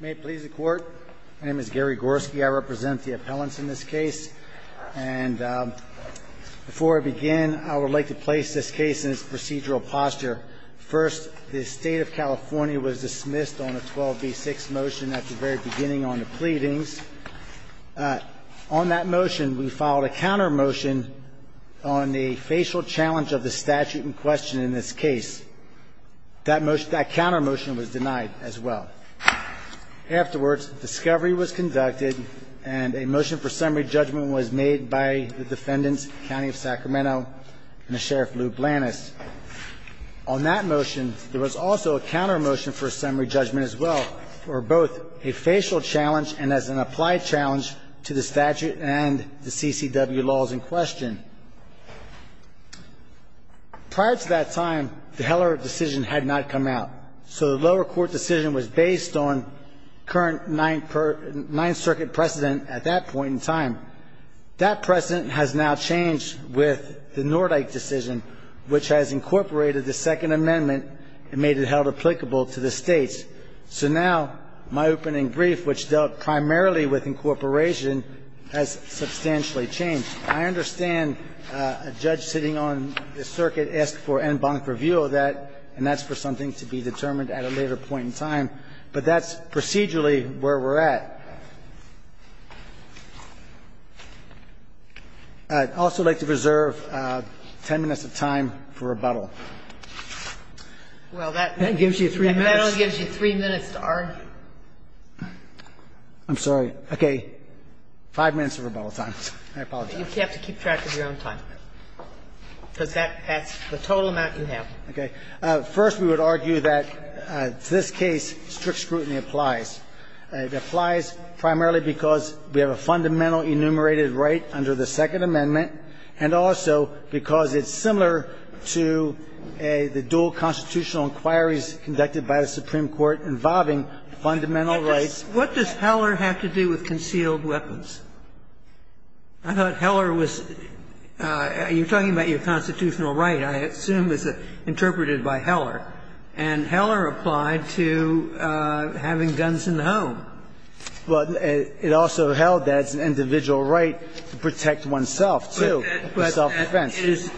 May it please the court. My name is Gary Gorski. I represent the appellants in this case. And before I begin, I would like to place this case in its procedural posture. First, the state of California was dismissed on a 12b6 motion at the very beginning on the pleadings. On that motion, we filed a counter motion on the facial challenge of the statute in question in this case. That counter motion was denied as well. Afterwards, discovery was conducted and a motion for summary judgment was made by the defendants, County of Sacramento, and Sheriff Lou Blanas. On that motion, there was also a counter motion for summary judgment as well, for both a facial challenge and as an applied challenge to the statute and the CCW laws in question. Prior to that time, the Heller decision had not come out. So the lower court decision was based on current Ninth Circuit precedent at that point in time. That precedent has now changed with the Nordyke decision, which has incorporated the Second Amendment and made it held applicable to the states. So now my opening brief, which dealt primarily with incorporation, has substantially changed. I understand a judge sitting on the circuit asked for en banc review of that, and that's for something to be determined at a later point in time. But that's procedurally where we're at. I'd also like to reserve 10 minutes of time for rebuttal. That gives you three minutes? That only gives you three minutes to argue. I'm sorry. Okay. Five minutes of rebuttal time. I apologize. You have to keep track of your own time, because that's the total amount you have. Okay. First, we would argue that in this case strict scrutiny applies. It applies primarily because we have a fundamental enumerated right under the Second Amendment, and also because it's similar to the dual constitutional inquiries conducted by the Supreme Court involving fundamental rights. What does Heller have to do with concealed weapons? I thought Heller was you're talking about your constitutional right, I assume, is interpreted by Heller. And Heller applied to having guns in the home. Well, it also held that it's an individual right to protect oneself, too, for self-defense.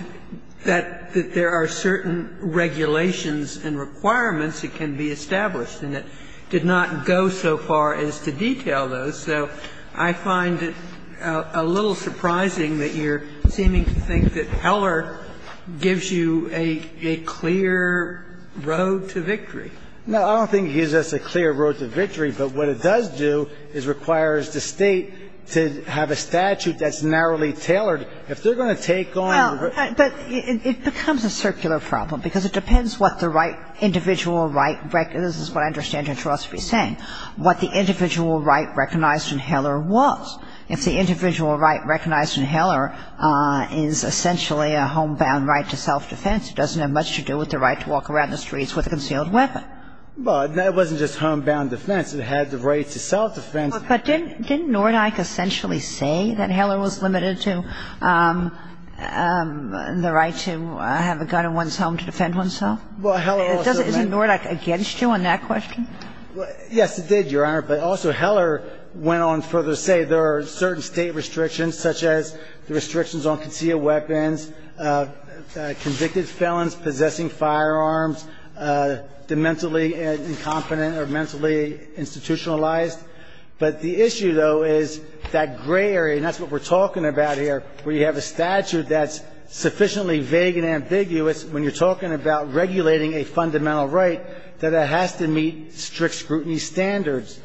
But that there are certain regulations and requirements that can be established, and it did not go so far as to detail those. So I find it a little surprising that you're seeming to think that Heller gives you a clear road to victory. No, I don't think he gives us a clear road to victory. But what it does do is requires the State to have a statute that's narrowly tailored. If they're going to take on the right to protect themselves. Well, but it becomes a circular problem, because it depends what the right individual right recognizes. This is what I understand your atrocity saying, what the individual right recognized in Heller was. If the individual right recognized in Heller is essentially a homebound right to self-defense, it doesn't have much to do with the right to walk around the streets with a concealed weapon. Well, that wasn't just homebound defense. It had the right to self-defense. But didn't Nordyke essentially say that Heller was limited to the right to have a gun in one's home to defend oneself? Well, Heller also meant. Isn't Nordyke against you on that question? Yes, it did, Your Honor. But also Heller went on further to say there are certain State restrictions, such as the restrictions on concealed weapons, convicted felons possessing firearms, the mentally incompetent or mentally institutionalized. But the issue, though, is that gray area, and that's what we're talking about here, where you have a statute that's sufficiently vague and ambiguous when you're talking about regulating a fundamental right, that it has to meet strict scrutiny standards.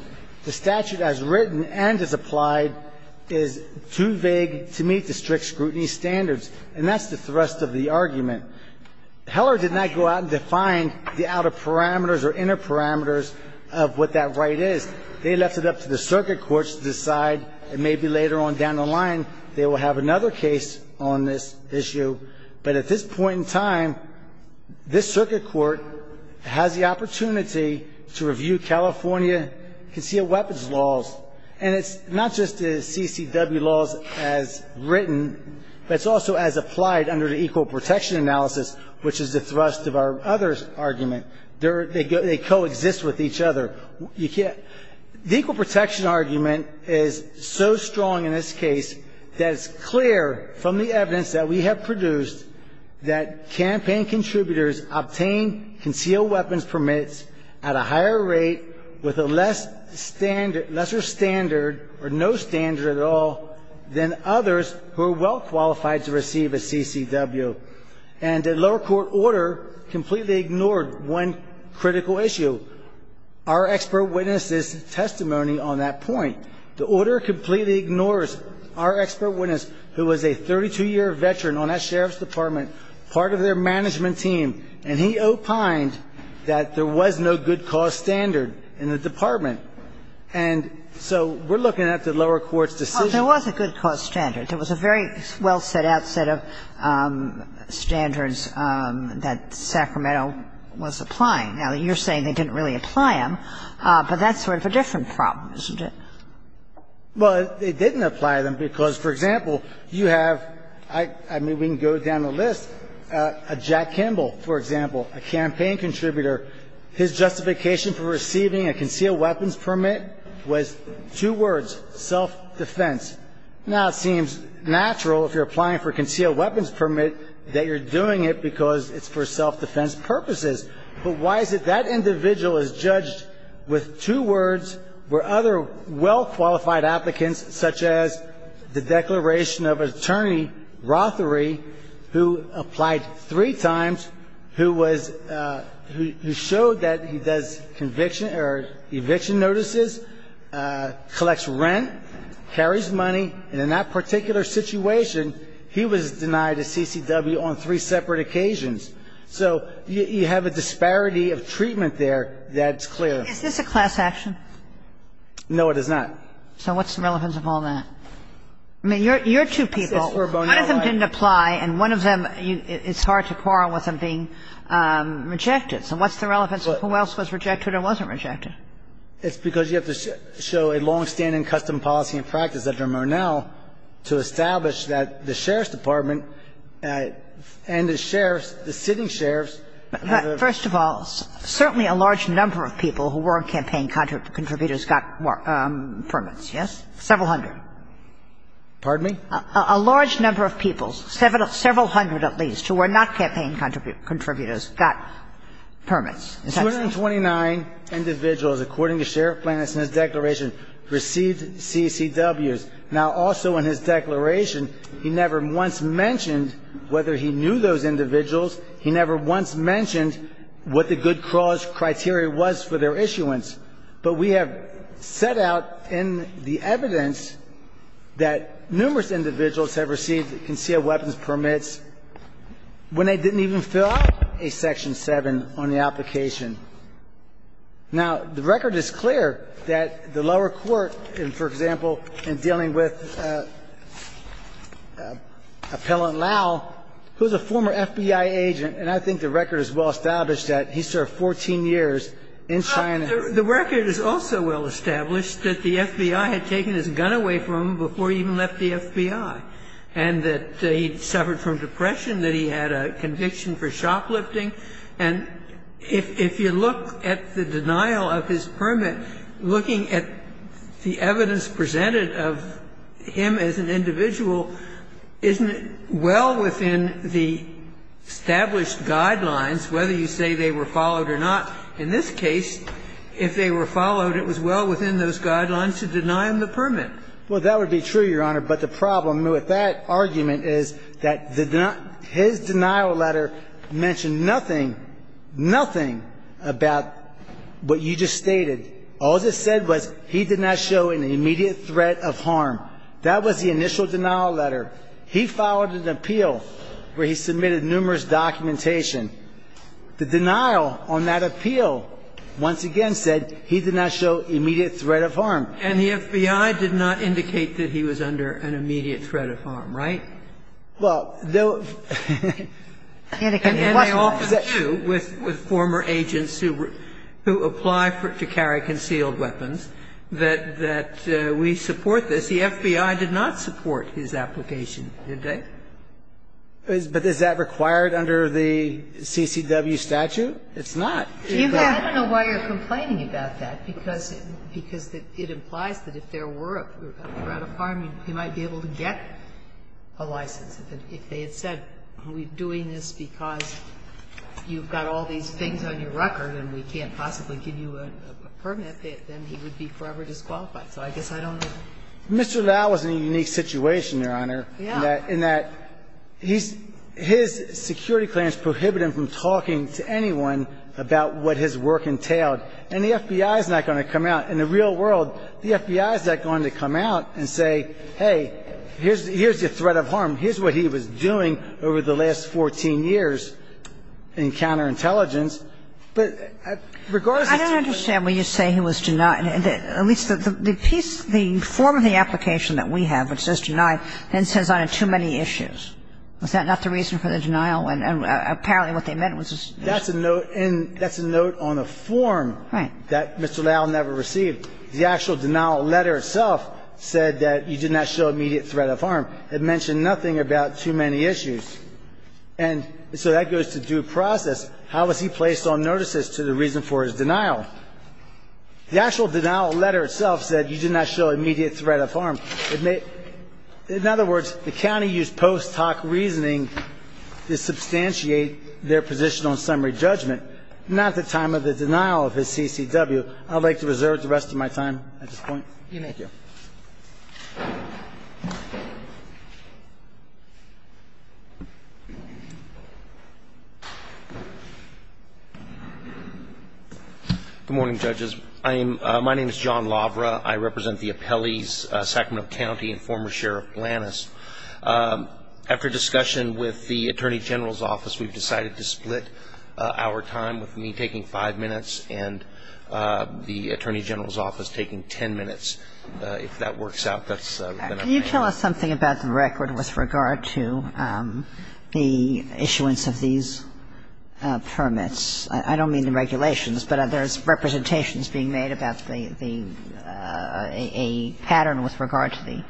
The statute as written and as applied is too vague to meet the strict scrutiny standards, and that's the thrust of the argument. Heller did not go out and define the outer parameters or inner parameters of what that right is. They left it up to the circuit courts to decide, and maybe later on down the line they will have another case on this issue. But at this point in time, this circuit court has the opportunity to review California concealed weapons laws. And it's not just the CCW laws as written, but it's also as applied under the equal protection analysis, which is the thrust of our other argument. They coexist with each other. The equal protection argument is so strong in this case that it's clear from the evidence that we have produced that campaign contributors obtain concealed weapons permits at a higher rate with a lesser standard or no standard at all than others who are well qualified to receive a CCW. And the lower court order completely ignored one critical issue. Our expert witness's testimony on that point, the order completely ignores our expert witness who was a 32-year veteran on that sheriff's department, part of their management team, and he opined that there was no good cause standard in the department. And so we're looking at the lower court's decision. Kagan. Oh, there was a good cause standard. There was a very well set out set of standards that Sacramento was applying. Now, you're saying they didn't really apply them, but that's sort of a different problem, isn't it? Well, they didn't apply them because, for example, you have, I mean, we can go down the list, a Jack Kimball, for example, a campaign contributor, his justification for receiving a concealed weapons permit was two words, self-defense. Now, it seems natural if you're applying for a concealed weapons permit that you're doing it because it's for self-defense purposes. But why is it that individual is judged with two words where other well-qualified applicants, such as the declaration of attorney Rothery, who applied three times, who was, who showed that he does conviction or eviction notices, collects rent, carries money, and in that particular situation, he was denied a CCW on three separate occasions. So you have a disparity of treatment there that's clear. Is this a class action? No, it is not. So what's the relevance of all that? I mean, you're two people. One of them didn't apply, and one of them, it's hard to quarrel with them being rejected. So what's the relevance of who else was rejected or wasn't rejected? It's because you have to show a longstanding custom policy and practice under Mornell to establish that the sheriff's department and the sheriffs, the sitting sheriffs have a ---- First of all, certainly a large number of people who were campaign contributors got permits, yes? Several hundred. Pardon me? A large number of people, several hundred at least, who were not campaign contributors got permits. 229 individuals, according to Sheriff Flannis in his declaration, received CCWs. Now, also in his declaration, he never once mentioned whether he knew those individuals. He never once mentioned what the good cause criteria was for their issuance. But we have set out in the evidence that numerous individuals have received concealed weapons permits when they didn't even fill out a Section 7 on the application Now, the record is clear that the lower court, for example, in dealing with Appellant Lau, who is a former FBI agent, and I think the record is well established that he served 14 years in China. The record is also well established that the FBI had taken his gun away from him before he even left the FBI, and that he suffered from depression, that he had a conviction for shoplifting. And if you look at the denial of his permit, looking at the evidence presented of him as an individual, isn't it well within the established guidelines, whether you say they were followed or not? In this case, if they were followed, it was well within those guidelines to deny him the permit. Well, that would be true, Your Honor. But the problem with that argument is that his denial letter mentioned nothing, nothing about what you just stated. All it said was he did not show an immediate threat of harm. That was the initial denial letter. He filed an appeal where he submitted numerous documentation. The denial on that appeal once again said he did not show immediate threat of harm. And the FBI did not indicate that he was under an immediate threat of harm, right? Well, though the question was true with former agents who apply to carry concealed weapons, that we support this. The FBI did not support his application, did they? But is that required under the CCW statute? It's not. I don't know why you're complaining about that, because it implies that if there were a threat of harm, you might be able to get a license. If they had said we're doing this because you've got all these things on your record and we can't possibly give you a permit, then he would be forever disqualified. So I guess I don't know. Mr. Lau was in a unique situation, Your Honor, in that he's his security claims that prohibit him from talking to anyone about what his work entailed. And the FBI is not going to come out. In the real world, the FBI is not going to come out and say, hey, here's your threat of harm. Here's what he was doing over the last 14 years in counterintelligence. But regardless of what you say, he was denied. At least the piece, the form of the application that we have, which says denied, then sends on too many issues. Was that not the reason for the denial? And apparently what they meant was this. That's a note on a form that Mr. Lau never received. The actual denial letter itself said that you did not show immediate threat of harm. It mentioned nothing about too many issues. And so that goes to due process. How was he placed on notices to the reason for his denial? The actual denial letter itself said you did not show immediate threat of harm. In other words, the county used post hoc reasoning to substantiate their position on summary judgment, not at the time of the denial of his CCW. I would like to reserve the rest of my time at this point. Thank you. Good morning, judges. My name is John Lavra. I represent the appellees, Sacramento County and former Sheriff Blanus. After discussion with the Attorney General's office, we've decided to split our time with me taking five minutes and the Attorney General's office taking ten minutes. If that works out, that's what I'm going to do. Can you tell us something about the record with regard to the issuance of these permits? I don't mean the regulations, but there's representations being made about a pattern with regard to the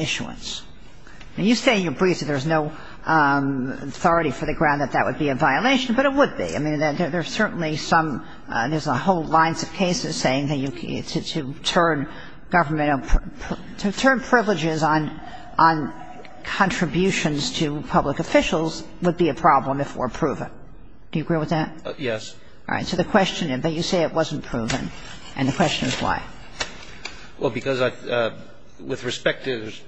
issuance. You say in your briefs that there's no authority for the ground, that that would be a violation, but it would be. I mean, there's certainly some ñ there's a whole lines of cases saying that to turn government and to turn privileges on contributions to public officials would be a problem if we're proven. Do you agree with that? Yes. All right. So the question is, but you say it wasn't proven. And the question is why? Well, because I ñ with respect to ñ there's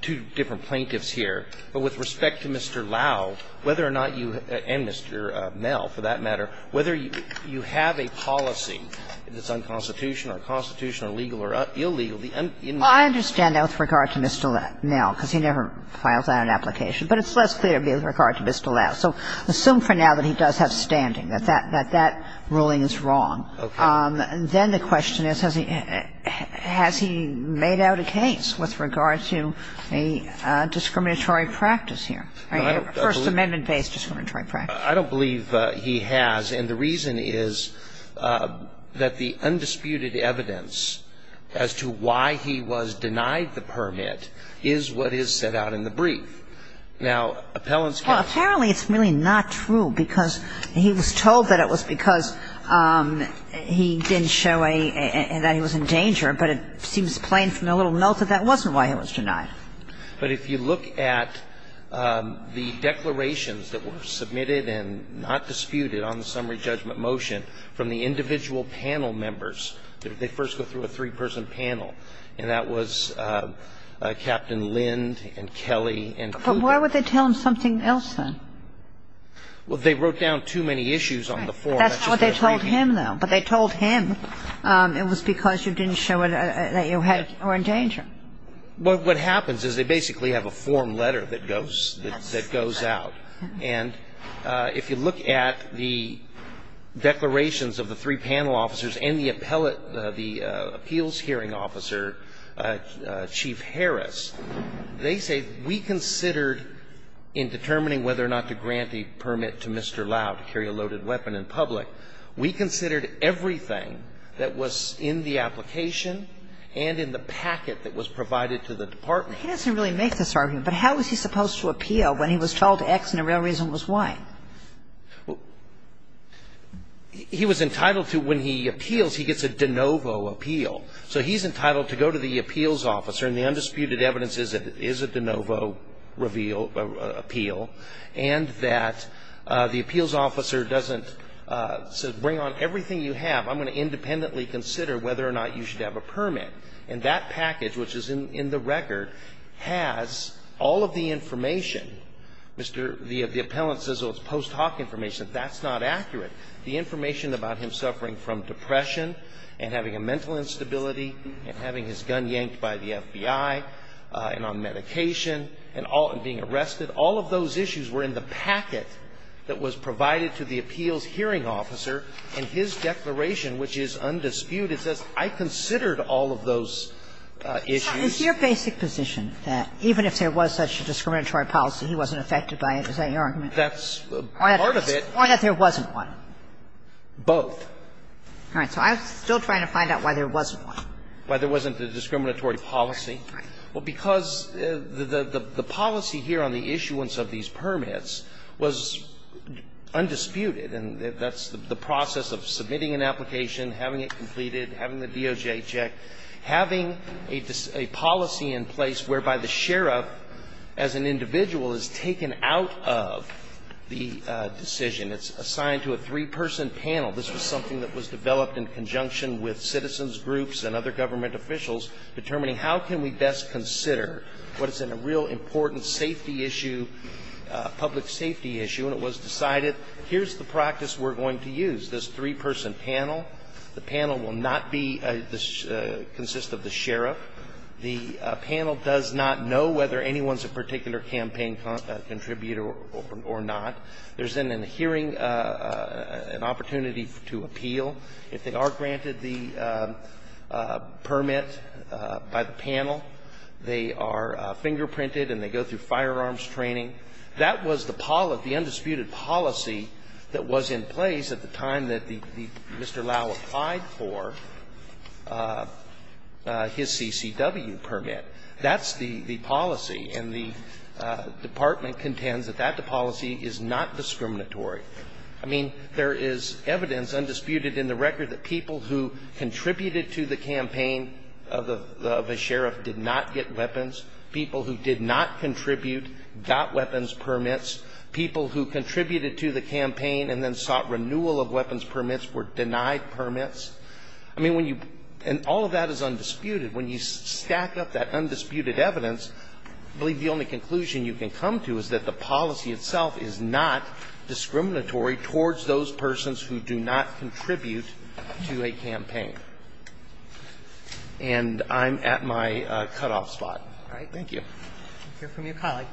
two different plaintiffs here. But with respect to Mr. Lau, whether or not you ñ and Mr. Mell, for that matter, whether you have a policy that's unconstitutional or constitutional or legal or illegal, the ñ in my view. Well, I understand that with regard to Mr. Mell, because he never files out an application. But it's less clear with regard to Mr. Lau. So assume for now that he does have standing, that that ruling is wrong. Okay. Then the question is, has he made out a case with regard to a discriminatory practice here, a First Amendment-based discriminatory practice? I don't believe he has. And the reason is that the undisputed evidence as to why he was denied the permit is what is set out in the brief. Now, appellants can ñ Well, apparently it's really not true, because he was told that it was because he didn't show a ñ that he was in danger. But it seems plain from the little note that that wasn't why he was denied. But if you look at the declarations that were submitted and not disputed on the summary judgment motion from the individual panel members, if they first go through a three-person panel, and that was Captain Lind and Kelly and Kluge. Why would they tell him something else then? Well, they wrote down too many issues on the form. That's what they told him, though. But they told him it was because you didn't show that you had ñ were in danger. Well, what happens is they basically have a form letter that goes ñ that goes out. And if you look at the declarations of the three panel officers and the appellate counsel, the appeals hearing officer, Chief Harris, they say we considered in determining whether or not to grant the permit to Mr. Lau to carry a loaded weapon in public, we considered everything that was in the application and in the packet that was provided to the department. He doesn't really make this argument. But how was he supposed to appeal when he was told X and the real reason was Y? Well, he was entitled to ñ when he appeals, he gets a de novo appeal. So he's entitled to go to the appeals officer, and the undisputed evidence is that it is a de novo appeal, and that the appeals officer doesn't say, bring on everything you have, I'm going to independently consider whether or not you should have a permit. And that package, which is in the record, has all of the information. Mr. ñ the appellant says, well, it's post hoc information. That's not accurate. The information about him suffering from depression and having a mental instability and having his gun yanked by the FBI and on medication and all ñ and being arrested, all of those issues were in the packet that was provided to the appeals hearing officer. And his declaration, which is undisputed, says I considered all of those issues. Sotomayor, is your basic position that even if there was such a discriminatory policy, he wasn't affected by it, is that your argument? That's part of it. Or that there wasn't one? Both. All right. So I'm still trying to find out why there wasn't one. Why there wasn't a discriminatory policy? Right. Well, because the policy here on the issuance of these permits was undisputed, and that's the process of submitting an application, having it completed, having the DOJ check, having a policy in place whereby the sheriff as an individual is taken out of the decision. It's assigned to a three-person panel. This was something that was developed in conjunction with citizens groups and other government officials determining how can we best consider what is a real important safety issue, public safety issue, and it was decided here's the practice we're going to use, this three-person panel. The panel will not be the ---- consist of the sheriff. The panel does not know whether anyone's a particular campaign contributor or not. There's then in the hearing an opportunity to appeal. If they are granted the permit by the panel, they are fingerprinted and they go through firearms training. That was the policy, the undisputed policy that was in place at the time that Mr. Lau applied for his CCW permit. That's the policy. And the department contends that that policy is not discriminatory. I mean, there is evidence, undisputed in the record, that people who contributed to the campaign of a sheriff did not get weapons. People who did not contribute got weapons permits. People who contributed to the campaign and then sought renewal of weapons permits were denied permits. I mean, when you ---- and all of that is undisputed. When you stack up that undisputed evidence, I believe the only conclusion you can come to is that the policy itself is not discriminatory towards those persons who do not contribute to a campaign. And I'm at my cutoff spot. Thank you. Roberts.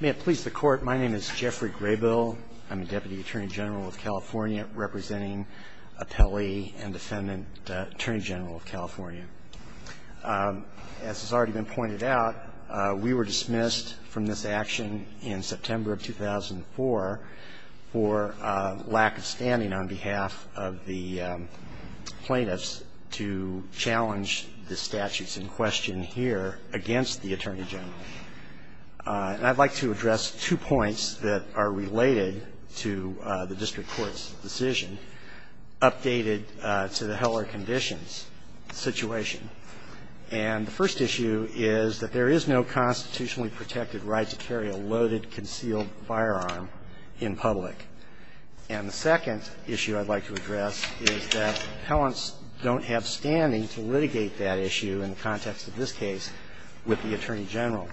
May it please the Court. My name is Jeffrey Graybill. I'm a Deputy Attorney General of California, representing appellee and defendant Attorney General of California. As has already been pointed out, we were dismissed from this action in September of 2004 for lack of standing on behalf of the plaintiffs to challenge the statutes in question here against the Attorney General. And I'd like to address two points that are related to the district court's decision updated to the Heller conditions situation. And the first issue is that there is no constitutionally protected right to carry a loaded, concealed firearm in public. And the second issue I'd like to address is that appellants don't have standing to litigate that issue in the context of this case with the Attorney General.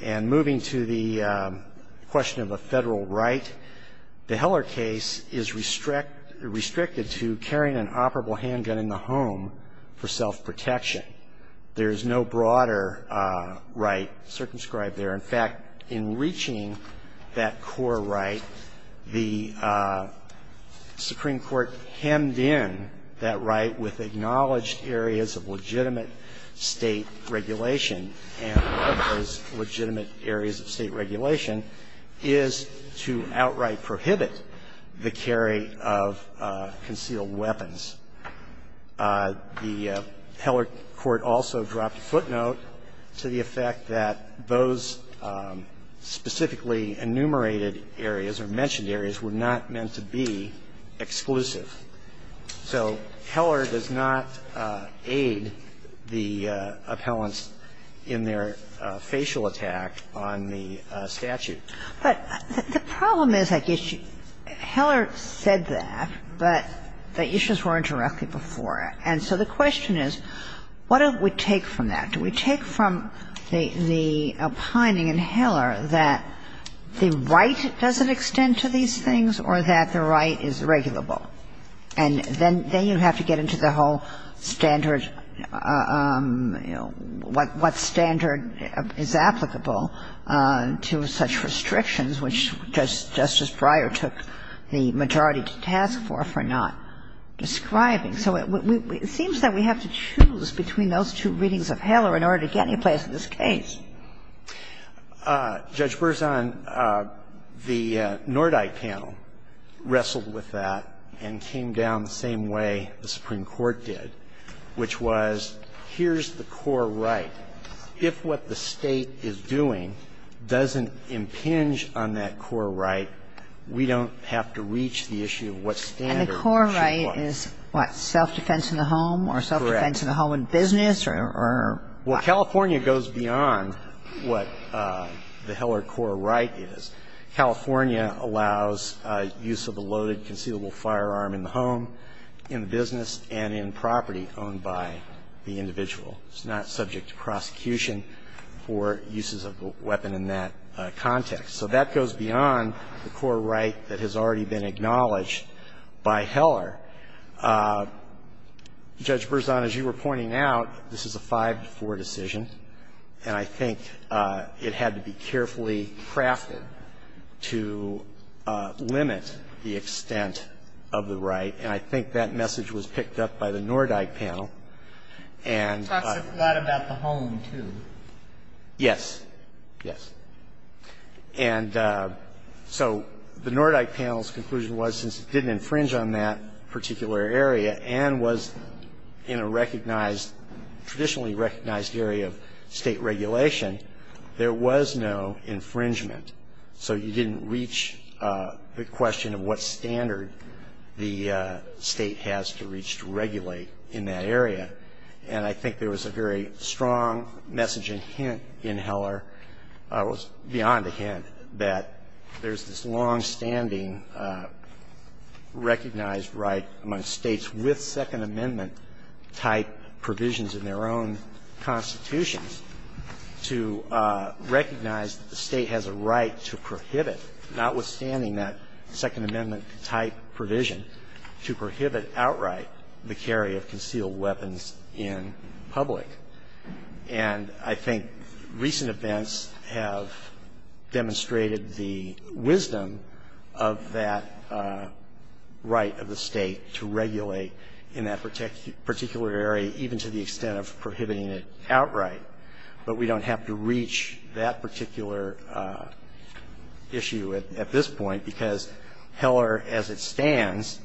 And moving to the question of a Federal right, the Heller case is restricted to carrying an operable handgun in the home for self-protection. There is no broader right circumscribed there. In fact, in reaching that core right, the Supreme Court hemmed in that right with acknowledged areas of legitimate State regulation, and one of those legitimate areas of State regulation is to outright prohibit the carry of concealed weapons. The Heller court also dropped a footnote to the effect that those specifically enumerated areas or mentioned areas were not meant to be exclusive. So Heller does not aid the appellants in their facial attack on the statute. But the problem is, I guess, Heller said that, but the issues weren't directly before it. And so the question is, what do we take from that? Do we take from the opining in Heller that the right doesn't extend to these things or that the right is regulable? And then you have to get into the whole standard, you know, what standard is applicable to such restrictions, which Justice Breyer took the majority to task for, for not describing. So it seems that we have to choose between those two readings of Heller in order to get any place in this case. Judges, Judge Berzon, the Nordyke panel wrestled with that and came down the same way the Supreme Court did, which was, here's the core right. If what the State is doing doesn't impinge on that core right, we don't have to reach the issue of what standard should what. And the core right is, what, self-defense in the home or self-defense in the home in business or what? California goes beyond what the Heller core right is. California allows use of a loaded concealable firearm in the home, in business, and in property owned by the individual. It's not subject to prosecution for uses of a weapon in that context. So that goes beyond the core right that has already been acknowledged by Heller. Judge Berzon, as you were pointing out, this is a 5-to-4 decision, and I think it had to be carefully crafted to limit the extent of the right. And I think that message was picked up by the Nordyke panel, and by the Nordyke panel. Sotomayor, it talks a lot about the home, too. Yes. Yes. And so the Nordyke panel's conclusion was, since it didn't infringe on that particular area and was in a recognized, traditionally recognized area of state regulation, there was no infringement. So you didn't reach the question of what standard the state has to reach to regulate in that area. And I think there was a very strong message and hint in Heller. It was beyond a hint that there's this longstanding recognized right amongst States with Second Amendment-type provisions in their own constitutions to recognize that the State has a right to prohibit, notwithstanding that Second Amendment-type provision, to prohibit outright the carry of concealed weapons in public. And I think recent events have demonstrated the wisdom of that right of the State to regulate in that particular area, even to the extent of prohibiting it outright. But we don't have to reach that particular issue at this point, because Heller, as it stands,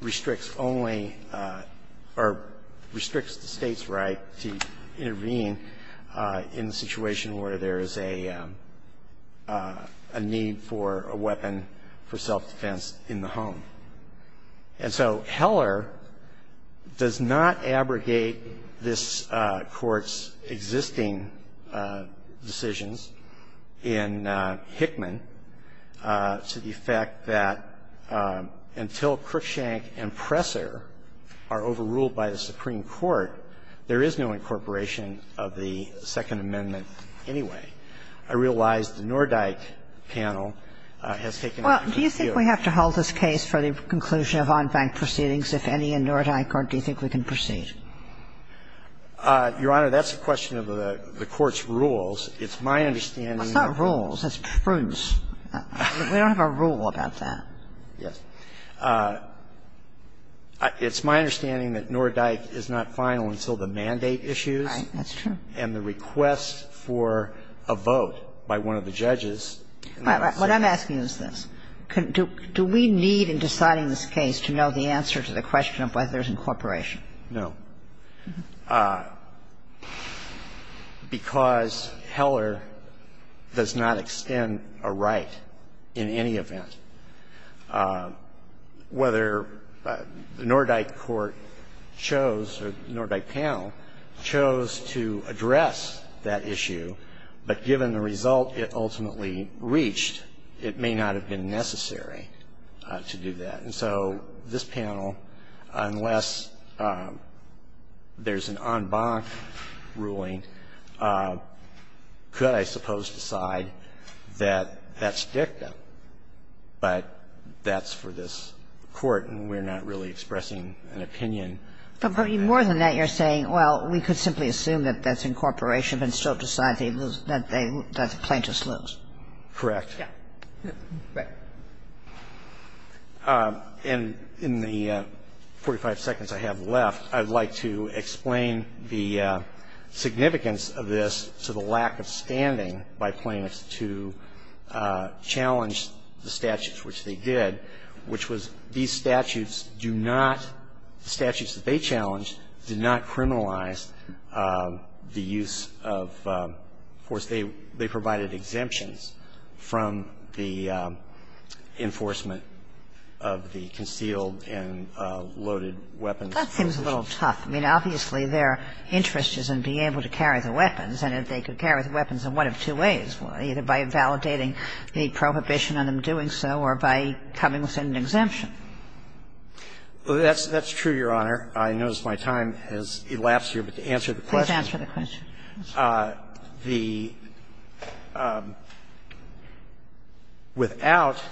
restricts only or restricts the State's right to intervene in the situation where there is a need for a weapon for self-defense in the home. And so Heller does not abrogate this Court's existing decisions in Hickman to the effect that until Cruikshank and Presser are overruled by the Supreme Court, there is no incorporation of the Second Amendment anyway. I realize the Nordyke panel has taken a different view. Well, do you think we have to hold this case for the conclusion of en banc proceedings, if any, in Nordyke, or do you think we can proceed? Your Honor, that's a question of the Court's rules. It's my understanding that we don't have a rule about that. Yes. It's my understanding that Nordyke is not final until the mandate issues and the request for a vote by one of the judges. What I'm asking is this. Do we need, in deciding this case, to know the answer to the question of whether there's incorporation? No. Because Heller does not extend a right in any event. Whether the Nordyke Court chose or the Nordyke panel chose to address that issue, but given the result it ultimately reached, it may not have been necessary to do that. And so this panel, unless there's an en banc ruling, could I suppose decide that that's dicta, but that's for this Court and we're not really expressing an opinion. But more than that, you're saying, well, we could simply assume that that's incorporation but still decide that they, that the plaintiffs lose. Correct. Correct. And in the 45 seconds I have left, I would like to explain the significance of this to the lack of standing by plaintiffs to challenge the statutes, which they did, which was these statutes do not, the statutes that they challenged, did not criminalize the use of force. They provided exemptions from the enforcement of the concealed and loaded weapons. That seems a little tough. I mean, obviously, their interest is in being able to carry the weapons, and if they could carry the weapons, in one of two ways, either by validating the prohibition on them doing so or by coming within an exemption. That's true, Your Honor. I notice my time has elapsed here, but to answer the question. Please answer the question. The – without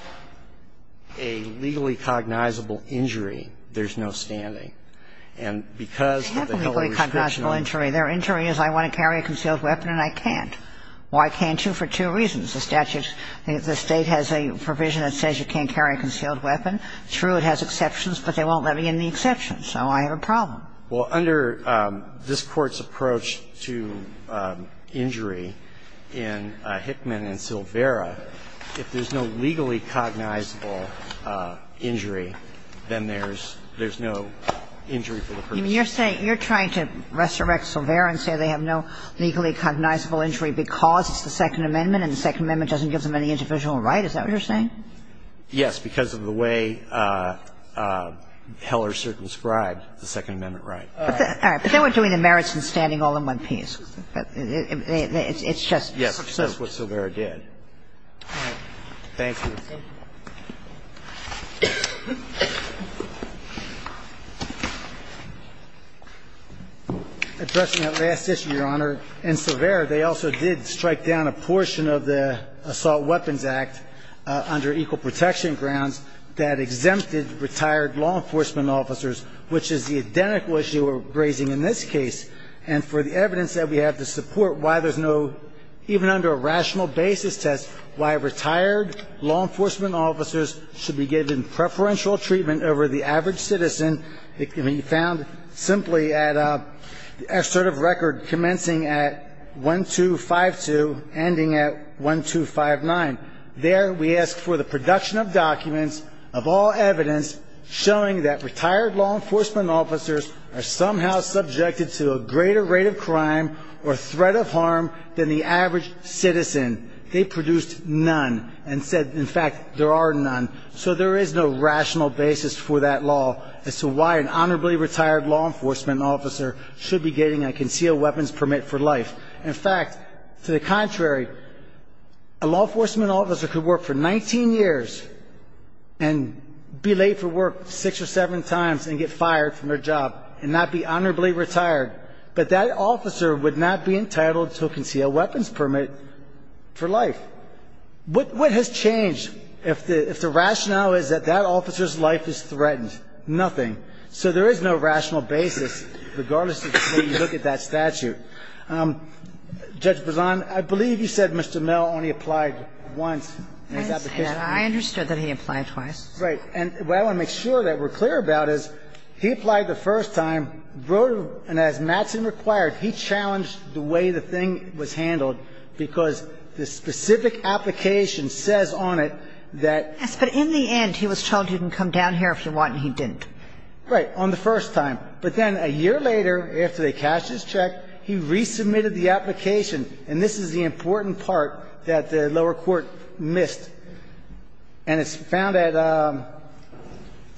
a legally cognizable injury, there's no standing. And because of the heavy restriction on them. They have a legally cognizable injury. Their injury is I want to carry a concealed weapon and I can't. Why can't you? For two reasons. The statute, the State has a provision that says you can't carry a concealed weapon. True, it has exceptions, but they won't let any exceptions. So I have a problem. Well, under this Court's approach to injury in Hickman and Silvera, if there's no legally cognizable injury, then there's no injury for the person. You're saying – you're trying to resurrect Silvera and say they have no legally cognizable injury because it's the Second Amendment and the Second Amendment doesn't give them any individual right? Is that what you're saying? Yes, because of the way Heller circumscribed the Second Amendment right. All right. But then we're doing the merits and standing all in one piece. It's just so. Yes, that's what Silvera did. All right. Thank you. Thank you. Addressing that last issue, Your Honor, in Silvera, they also did strike down a portion of the Assault Weapons Act under Equal Protection Grounds that exempted retired law enforcement officers, which is the identical issue we're raising in this case. And for the evidence that we have to support why there's no – even under a rational basis test why retired law enforcement officers should be given preferential treatment over the average citizen, it can be found simply at an assertive record at 1252 ending at 1259. There we ask for the production of documents of all evidence showing that retired law enforcement officers are somehow subjected to a greater rate of crime or threat of harm than the average citizen. They produced none and said, in fact, there are none. So there is no rational basis for that law as to why an honorably retired law In fact, to the contrary, a law enforcement officer could work for 19 years and be laid for work six or seven times and get fired from their job and not be honorably retired. But that officer would not be entitled to a concealed weapons permit for life. What has changed if the rationale is that that officer's life is threatened? Nothing. So there is no rational basis, regardless of the way you look at that statute. Judge Bresan, I believe you said Mr. Mell only applied once. And his application was twice. And I understood that he applied twice. Right. And what I want to make sure that we're clear about is he applied the first time and, as Matson required, he challenged the way the thing was handled because the specific application says on it that Yes, but in the end he was told you can come down here if you want and he didn't. Right. On the first time. But then a year later, after they cashed his check, he resubmitted the application. And this is the important part that the lower court missed. And it's found at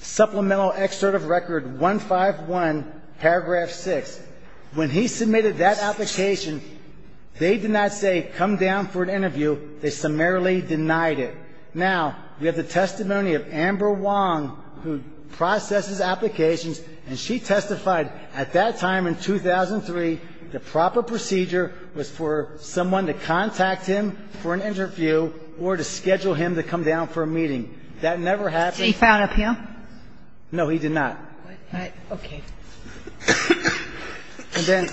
Supplemental Excerpt of Record 151, paragraph 6. When he submitted that application, they did not say come down for an interview. They summarily denied it. Now, we have the testimony of Amber Wong, who processes applications, and she testified at that time in 2003 the proper procedure was for someone to contact him for an interview or to schedule him to come down for a meeting. That never happened. So he found appeal? No, he did not. All right. Okay. And then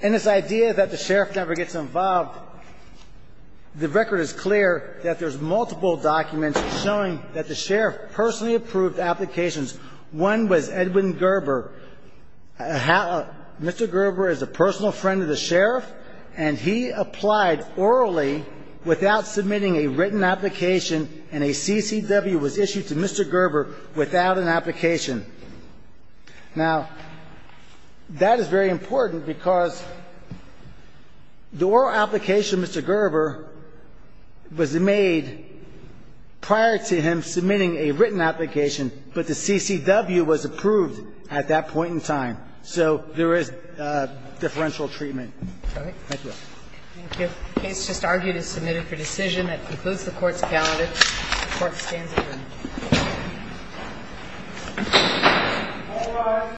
in this idea that the sheriff never gets involved, the record is clear that there's multiple documents showing that the sheriff personally approved applications. One was Edwin Gerber. Mr. Gerber is a personal friend of the sheriff, and he applied orally without submitting a written application and a CCW was issued to Mr. Gerber without an application. Now, that is very important because the oral application of Mr. Gerber was made prior to him submitting a written application, but the CCW was approved at that point in time. So there is differential treatment. All right. Thank you. Thank you. The case just argued is submitted for decision. That concludes the Court's calendar. The Court stands adjourned. All rise.